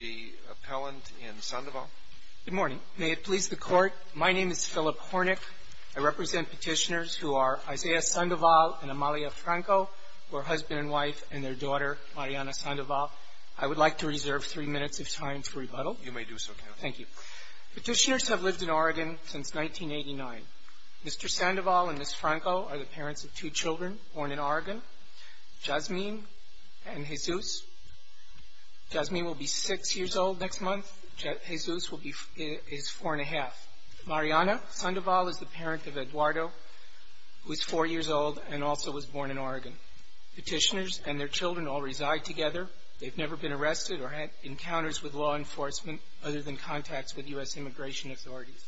the appellant in Sandoval. Good morning. May it please the Court, my name is Philip Hornick. I represent petitioners who are Isaiah Sandoval and Amalia Franco, who are husband and wife, and their daughter Mariana Sandoval. I would like to reserve three minutes of time for rebuttal. You may do so, Counselor. Thank you. Petitioners have lived in Oregon since 1989. Mr. Sandoval and Ms. Franco are the parents of two children, born in Oregon, Jasmin and Jesus. Jasmin will be six years old next month. Jesus is four and a half. Mariana Sandoval is the parent of Eduardo, who is four years old and also was born in Oregon. Petitioners and their children all reside together. They've never been arrested or had encounters with law enforcement other than contacts with U.S. immigration authorities.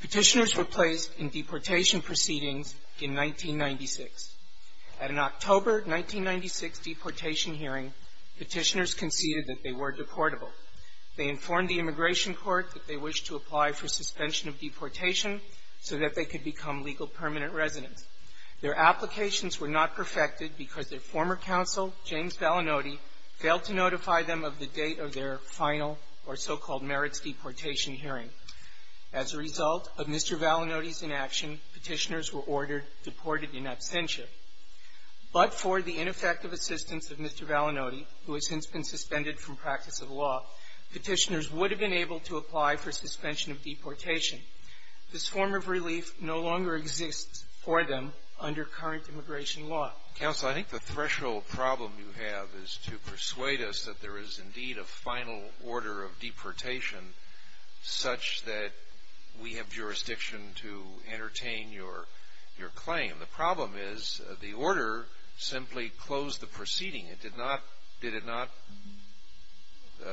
Petitioners were placed in deportation proceedings in 1996. At an October 1996 deportation hearing, petitioners conceded that they were deportable. They informed the Immigration Court that they wished to apply for suspension of deportation so that they could become legal permanent residents. Their applications were not perfected because their former counsel, James Valinotti, failed to notify them of the date of their final or so-called merits deportation hearing. As a result of Mr. Valinotti's inaction, petitioners were ordered deported in absentia. But for the ineffective assistance of Mr. Valinotti, who has since been suspended from practice of law, petitioners would have been able to apply for suspension of deportation. This form of relief no longer exists for them under current immigration law. Counsel, I think the threshold problem you have is to persuade us that there is indeed a final order of deportation such that we have jurisdiction to entertain your claim. The problem is the order simply closed the proceeding. It did not, did it not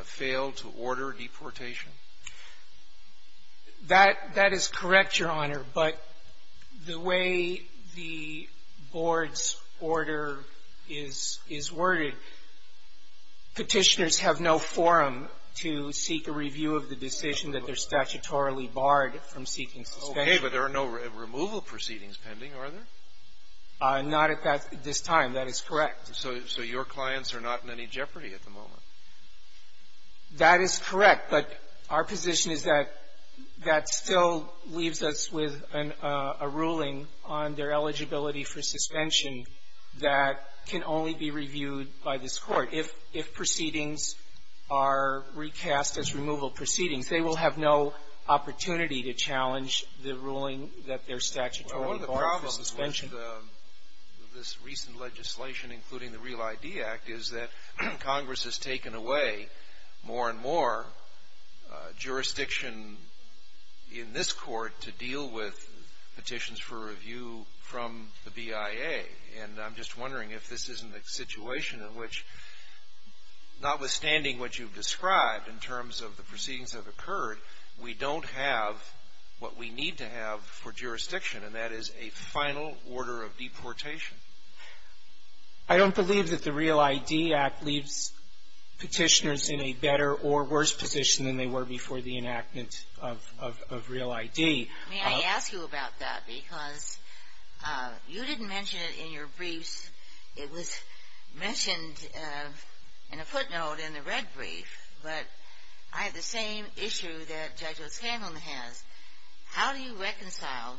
fail to order deportation? That is correct, Your Honor. But the way the Board's order is worded, petitioners have no forum to seek a review of the decision that they're statutorily barred from seeking suspension. Okay. But there are no removal proceedings pending, are there? Not at this time. That is correct. So your clients are not in any jeopardy at the moment? That is correct. But our position is that that still leaves us with a ruling on their eligibility for suspension that can only be reviewed by this Court. If proceedings are recast as removal proceedings, they will have no opportunity to challenge the ruling that they're statutorily barred from suspension. The problem with this recent legislation, including the REAL ID Act, is that Congress has taken away more and more jurisdiction in this Court to deal with petitions for review from the BIA. And I'm just wondering if this isn't a situation in which, notwithstanding what you've described in terms of the proceedings that have occurred, we don't have what we I don't believe that the REAL ID Act leaves petitioners in a better or worse position than they were before the enactment of REAL ID. May I ask you about that? Because you didn't mention it in your briefs. It was mentioned in a footnote in the red brief. But I have the same issue that Judge O'Scanlan has. How do you reconcile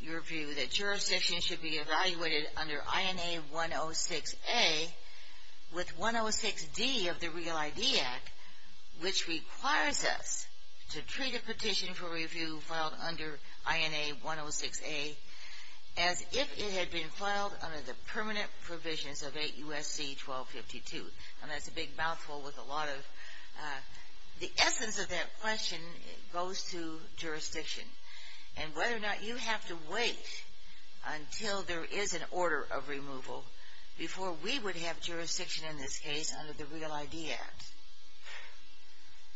your view that jurisdiction should be evaluated under INA 106A with 106D of the REAL ID Act, which requires us to treat a petition for review filed under INA 106A as if it had been filed under the permanent provisions of 8 U.S.C. 1252? And that's a And whether or not you have to wait until there is an order of removal before we would have jurisdiction in this case under the REAL ID Act?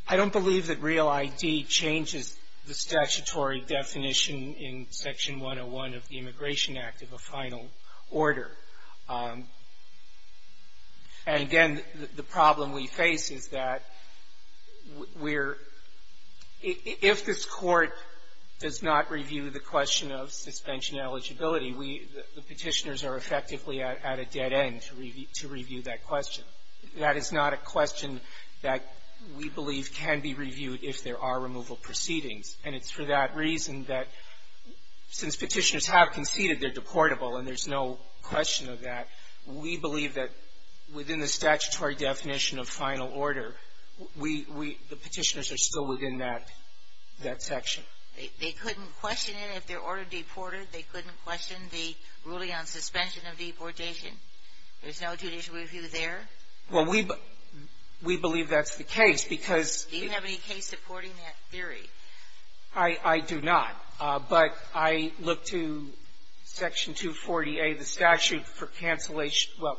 I don't believe that REAL ID changes the statutory definition in Section 101 of the Immigration does not review the question of suspension eligibility. We the petitioners are effectively at a dead end to review that question. That is not a question that we believe can be reviewed if there are removal proceedings. And it's for that reason that since petitioners have conceded they're deportable, and there's no question of that, we believe that within the statutory definition of final order, we the petitioners are still within that section. They couldn't question it if they're ordered deported? They couldn't question the ruling on suspension of deportation? There's no judicial review there? Well, we believe that's the case because Do you have any case supporting that theory? I do not. But I look to Section 240A, the statute for cancellation Well,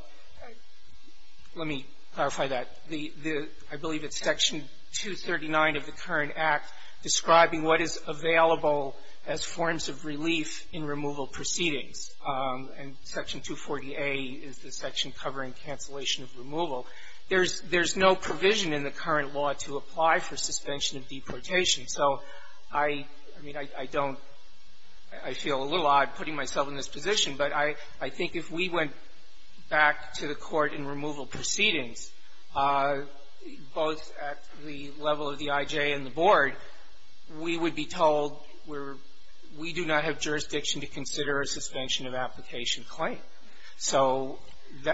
let me clarify that. I believe it's Section 239 of the current Act describing what is available as forms of relief in removal proceedings. And Section 240A is the section covering cancellation of removal. There's no provision in the current law to apply for suspension of deportation. So I mean, I don't, I feel a little odd putting myself in this position, but I think if we went back to the court in removal proceedings, both at the we do not have jurisdiction to consider a suspension of application claim. So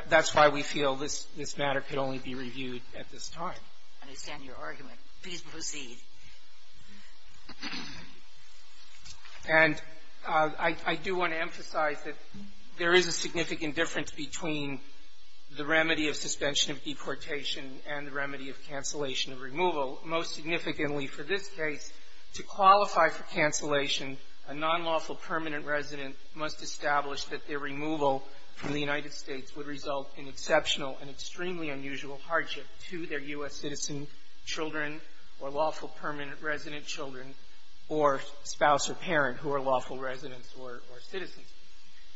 that's why we feel this matter could only be reviewed at this time. I understand your argument. Please proceed. And I do want to emphasize that there is a significant difference between the remedy of suspension of deportation and the remedy of cancellation of removal. Most significantly for this case, to qualify for cancellation, a nonlawful permanent resident must establish that their removal from the United States would result in exceptional and extremely unusual hardship to their U.S. citizen children or lawful permanent resident children or spouse or parent who are lawful residents or citizens.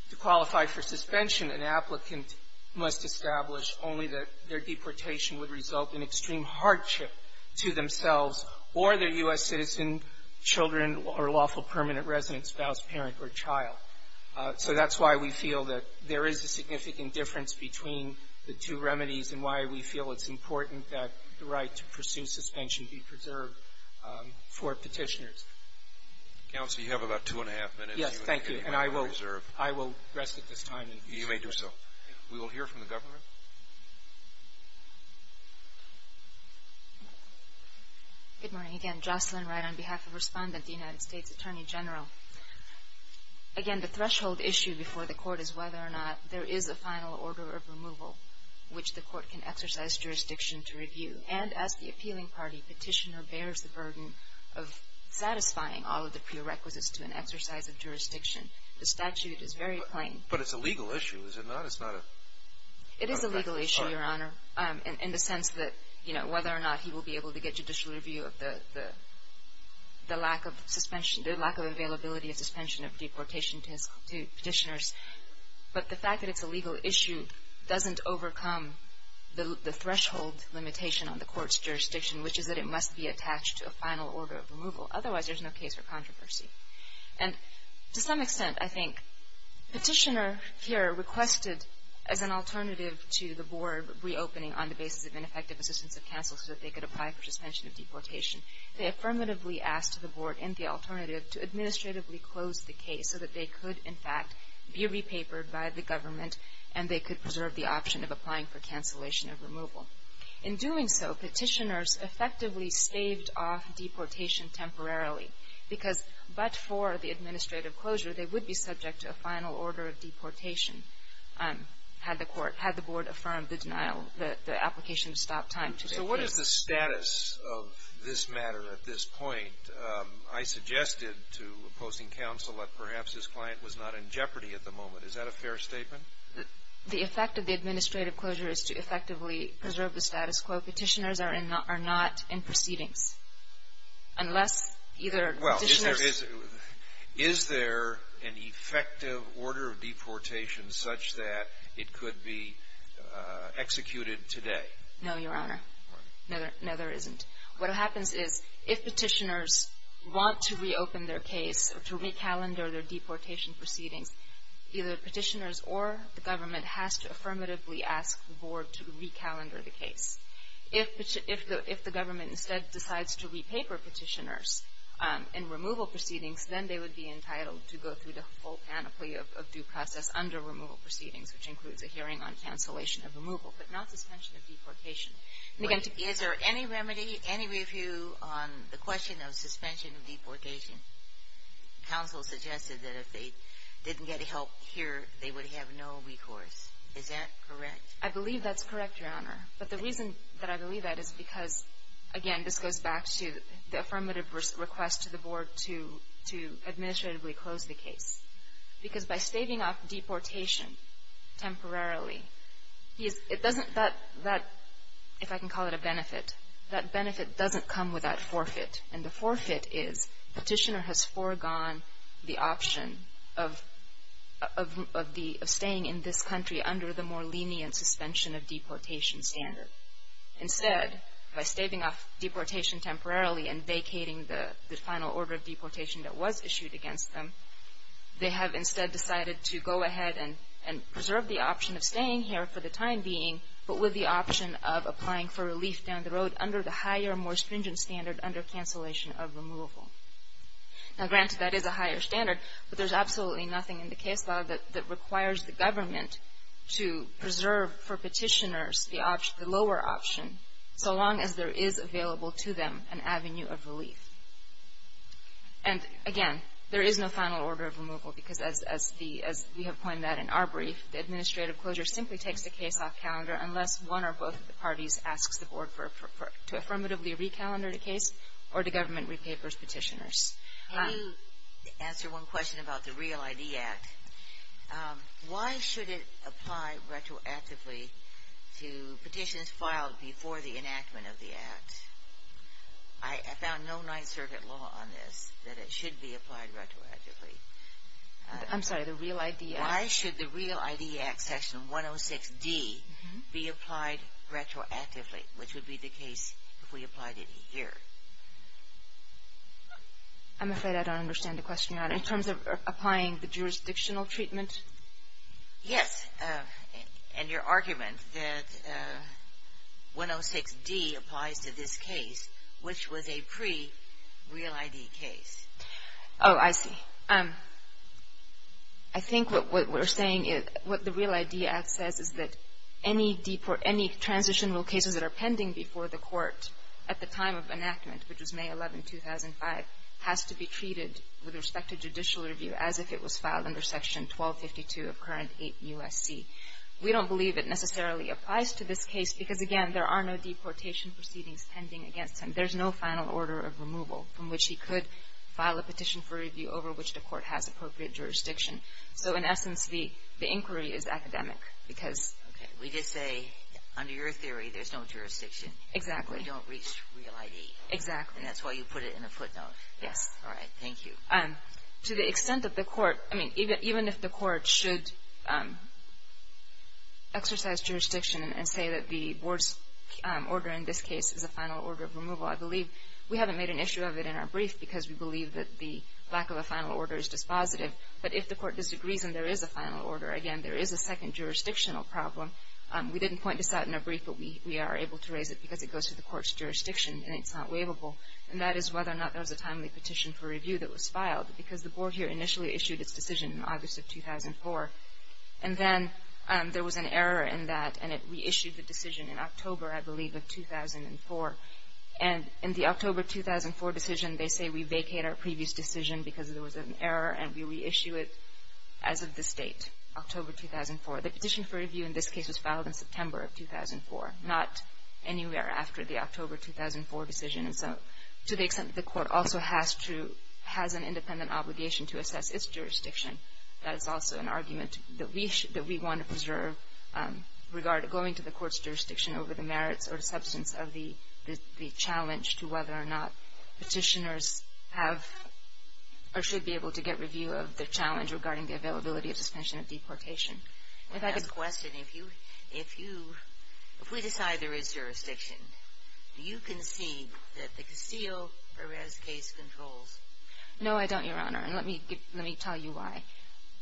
To qualify for suspension, an applicant must establish only that their deportation would result in extreme hardship to themselves or their U.S. citizen children or lawful permanent resident spouse, parent, or child. So that's why we feel that there is a significant difference between the two remedies and why we feel it's important that the right to pursue suspension be preserved for Petitioners. Counsel, you have about two and a half minutes. Yes. Thank you. And I will rest at this time. You may do so. We will hear from the government. Good morning. Again, Jocelyn Wright on behalf of Respondent, the United States Attorney General. Again, the threshold issue before the Court is whether or not there is a final order of removal which the Court can exercise jurisdiction to review. And as the appealing party, Petitioner bears the burden of satisfying all of the prerequisites to an exercise of jurisdiction. The statute is very plain. But it's a legal issue, is it not? It's not a... It is a legal issue. It is a legal issue, Your Honor, in the sense that, you know, whether or not he will be able to get judicial review of the lack of suspension, the lack of availability of suspension of deportation to Petitioners. But the fact that it's a legal issue doesn't overcome the threshold limitation on the Court's jurisdiction, which is that it must be attached to a final order of removal. Otherwise, there's no case for controversy. And to some extent, I think, Petitioner here requested as an alternative to the Board reopening on the basis of ineffective assistance of counsel so that they could apply for suspension of deportation. They affirmatively asked the Board in the alternative to administratively close the case so that they could, in fact, be repapered by the government and they could In doing so, Petitioners effectively staved off deportation temporarily because, but for the administrative closure, they would be subject to a final order of deportation had the Court, had the Board affirmed the denial, the application to stop time to their case. So what is the status of this matter at this point? I suggested to opposing counsel that perhaps his client was not in jeopardy at the moment. Is that a fair statement? The effect of the administrative closure is to effectively preserve the status quo. Petitioners are not in proceedings unless either Petitioners Well, is there an effective order of deportation such that it could be executed today? No, Your Honor. No, there isn't. What happens is if Petitioners want to reopen their case or to recalendar their deportation proceedings, either Petitioners or the government has to affirmatively ask the Board to recalendar the case. If the government instead decides to repaper Petitioners in removal proceedings, then they would be entitled to go through the full panoply of due process under removal proceedings, which includes a hearing on cancellation of removal, but not suspension of deportation. Is there any remedy, any review on the question of suspension of deportation? Counsel suggested that if they didn't get help here, they would have no recourse. Is that correct? I believe that's correct, Your Honor. But the reason that I believe that is because, again, this goes back to the affirmative request to the Board to administratively close the case. Because by staving off deportation temporarily, it doesn't, that, if I can call it a benefit, that benefit doesn't come without forfeit. And the forfeit is Petitioner has foregone the option of staying in this country under the more lenient suspension of deportation standard. Instead, by staving off deportation temporarily and vacating the final order of They have instead decided to go ahead and preserve the option of staying here for the time being, but with the option of applying for relief down the road under the higher, more stringent standard under cancellation of removal. Now, granted, that is a higher standard, but there's absolutely nothing in the case law that requires the government to preserve for Petitioners the lower option so long as there is available to them an avenue of relief. And, again, there is no final order of removal. Because as we have pointed out in our brief, the administrative closure simply takes the case off calendar unless one or both of the parties asks the Board to affirmatively recalendar the case or the government repapers Petitioners. Can you answer one question about the REAL ID Act? Why should it apply retroactively to petitions filed before the enactment of the Act? I found no Ninth Circuit law on this that it should be applied retroactively. I'm sorry, the REAL ID Act? Why should the REAL ID Act section 106D be applied retroactively, which would be the case if we applied it here? I'm afraid I don't understand the question you're asking. In terms of applying the jurisdictional treatment? Yes. And your argument that 106D applies to this case, which was a pre-REAL ID case. Oh, I see. I think what we're saying is what the REAL ID Act says is that any transitional cases that are pending before the Court at the time of enactment, which was May 11, 2005, has to be treated with respect to judicial review as if it was filed under Section 1252 of current 8 U.S.C. We don't believe it necessarily applies to this case because, again, there are no deportation proceedings pending against him. There's no final order of removal from which he could file a petition for review over which the Court has appropriate jurisdiction. So, in essence, the inquiry is academic because — Okay. We just say, under your theory, there's no jurisdiction. Exactly. We don't reach REAL ID. Exactly. And that's why you put it in a footnote. Yes. All right. Thank you. To the extent that the Court — I mean, even if the Court should exercise jurisdiction and say that the Board's order in this case is a final order of removal, I believe — we haven't made an issue of it in our brief because we believe that the lack of a final order is dispositive. But if the Court disagrees and there is a final order, again, there is a second jurisdictional problem. We didn't point this out in our brief, but we are able to raise it because it goes to And that is whether or not there was a timely petition for review that was filed because the Board here initially issued its decision in August of 2004. And then there was an error in that, and it reissued the decision in October, I believe, of 2004. And in the October 2004 decision, they say we vacate our previous decision because there was an error, and we reissue it as of this date, October 2004. The petition for review in this case was filed in September of 2004, not anywhere after the to the extent that the Court also has to — has an independent obligation to assess its jurisdiction. That is also an argument that we want to preserve regarding going to the Court's jurisdiction over the merits or the substance of the challenge to whether or not petitioners have or should be able to get review of the challenge regarding the availability of suspension of deportation. If I could — If we decide there is jurisdiction, do you concede that the Castillo-Perez case controls? No, I don't, Your Honor. And let me tell you why.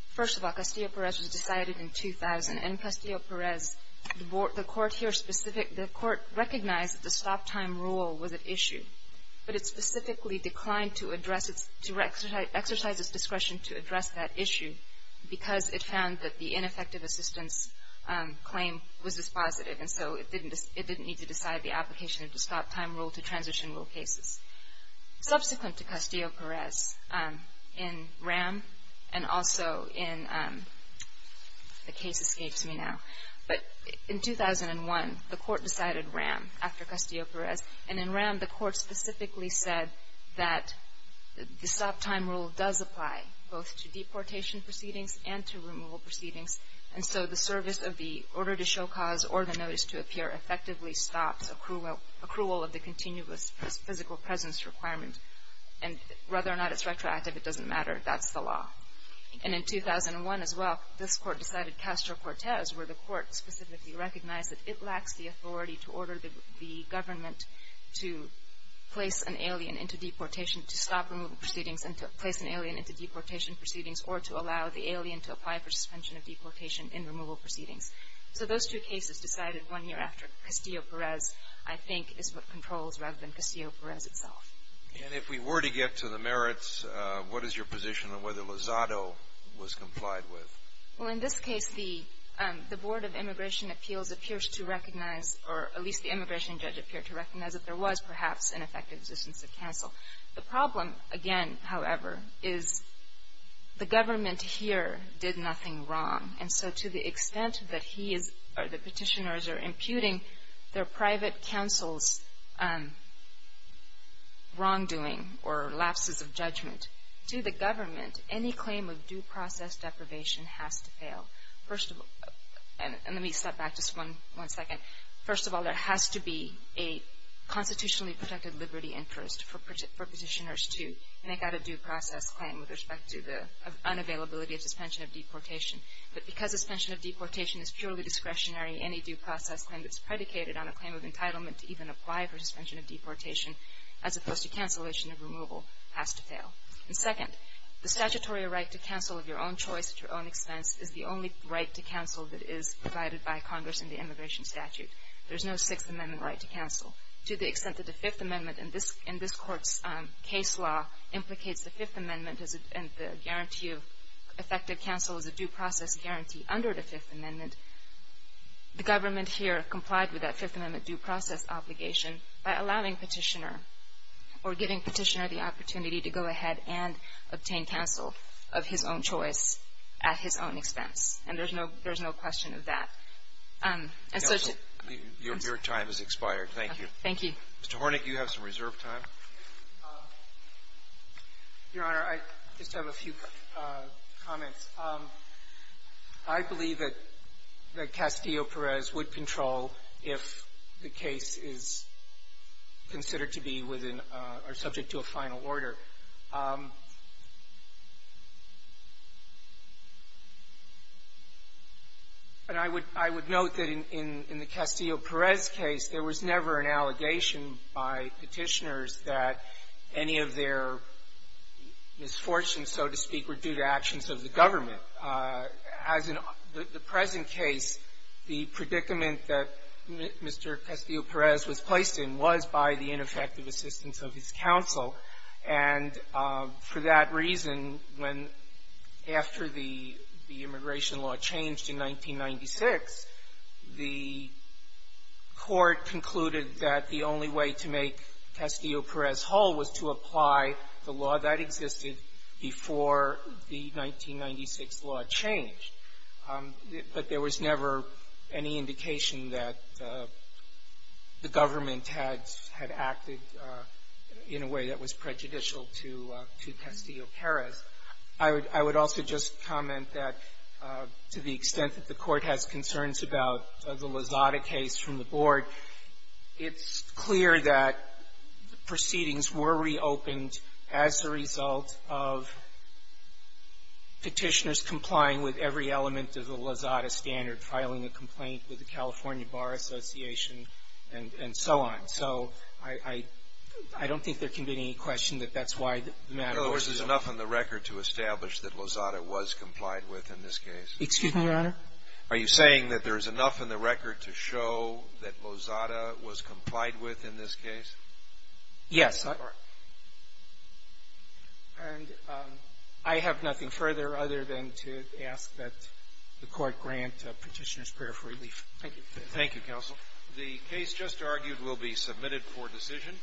First of all, Castillo-Perez was decided in 2000. And Castillo-Perez, the Court here specific — the Court recognized that the stop-time rule was at issue, but it specifically declined to address its — to exercise its discretion to address that issue because it found that the ineffective assistance claim was dispositive. And so it didn't need to decide the application of the stop-time rule to transition rule cases. Subsequent to Castillo-Perez, in RAM and also in — the case escapes me now. But in 2001, the Court decided RAM after Castillo-Perez. And in RAM, the Court specifically said that the stop-time rule does apply both to deportation proceedings and to removal proceedings. And so the service of the order to show cause or the notice to appear effectively stops accrual of the continuous physical presence requirement. And whether or not it's retroactive, it doesn't matter. That's the law. And in 2001 as well, this Court decided Castro-Cortez, where the Court specifically recognized that it lacks the authority to order the government to place an alien into deportation, to stop removal proceedings and to place an alien into deportation proceedings, or to allow the alien to apply for suspension of deportation in removal proceedings. So those two cases decided one year after Castillo-Perez, I think, is what controls rather than Castillo-Perez itself. And if we were to get to the merits, what is your position on whether Lozado was complied with? Well, in this case, the Board of Immigration Appeals appears to recognize, or at least the immigration judge appeared to recognize, that there was perhaps an effective existence of counsel. The problem, again, however, is the government here did nothing wrong. And so to the extent that he is, or the petitioners are imputing their private counsel's wrongdoing or lapses of judgment to the government, any claim of due process deprivation has to fail. And let me step back just one second. First of all, there has to be a constitutionally protected liberty interest for petitioners to make out a due process claim with respect to the unavailability of suspension of deportation. But because suspension of deportation is purely discretionary, any due process claim that's predicated on a claim of entitlement to even apply for suspension of deportation, as opposed to cancellation of removal, has to fail. And second, the statutory right to counsel of your own choice at your own expense is the only right to counsel that is provided by Congress in the immigration statute. There's no Sixth Amendment right to counsel. To the extent that the Fifth Amendment in this Court's case law implicates the Fifth Amendment and the guarantee of effective counsel as a due process guarantee under the Fifth Amendment, the government here complied with that Fifth Amendment due process obligation by allowing Petitioner or giving Petitioner the opportunity to go ahead and obtain counsel of his own choice at his own expense. And there's no question of that. And so to ---- Alitoso, your time has expired. Thank you. Thank you. Mr. Hornick, you have some reserve time. Your Honor, I just have a few comments. I believe that Castillo-Perez would control if the case is considered to be within or subject to a final order. And I would note that in the Castillo-Perez case, there was never an allegation by Petitioners that any of their misfortunes, so to speak, were due to actions of the government. As in the present case, the predicament that Mr. Castillo-Perez was placed in was by the ineffective assistance of his counsel. And for that reason, when ---- after the immigration law changed in 1996, the Court concluded that the only way to make Castillo-Perez whole was to apply the law that existed before the 1996 law changed. But there was never any indication that the government had acted in a way that was prejudicial to Castillo-Perez. I would also just comment that to the extent that the Court has concerns about the as a result of Petitioners complying with every element of the Lozada standard, filing a complaint with the California Bar Association, and so on. So I don't think there can be any question that that's why the matter was so ---- Scalia. In other words, there's enough in the record to establish that Lozada was complied with in this case. Carvin. Excuse me, Your Honor. Scalia. Are you saying that there is enough in the record to show that Lozada was complied with in this case? Carvin. Yes. And I have nothing further other than to ask that the Court grant Petitioners prayer for relief. Thank you. Scalia. Thank you, Counsel. The case just argued will be submitted for decision.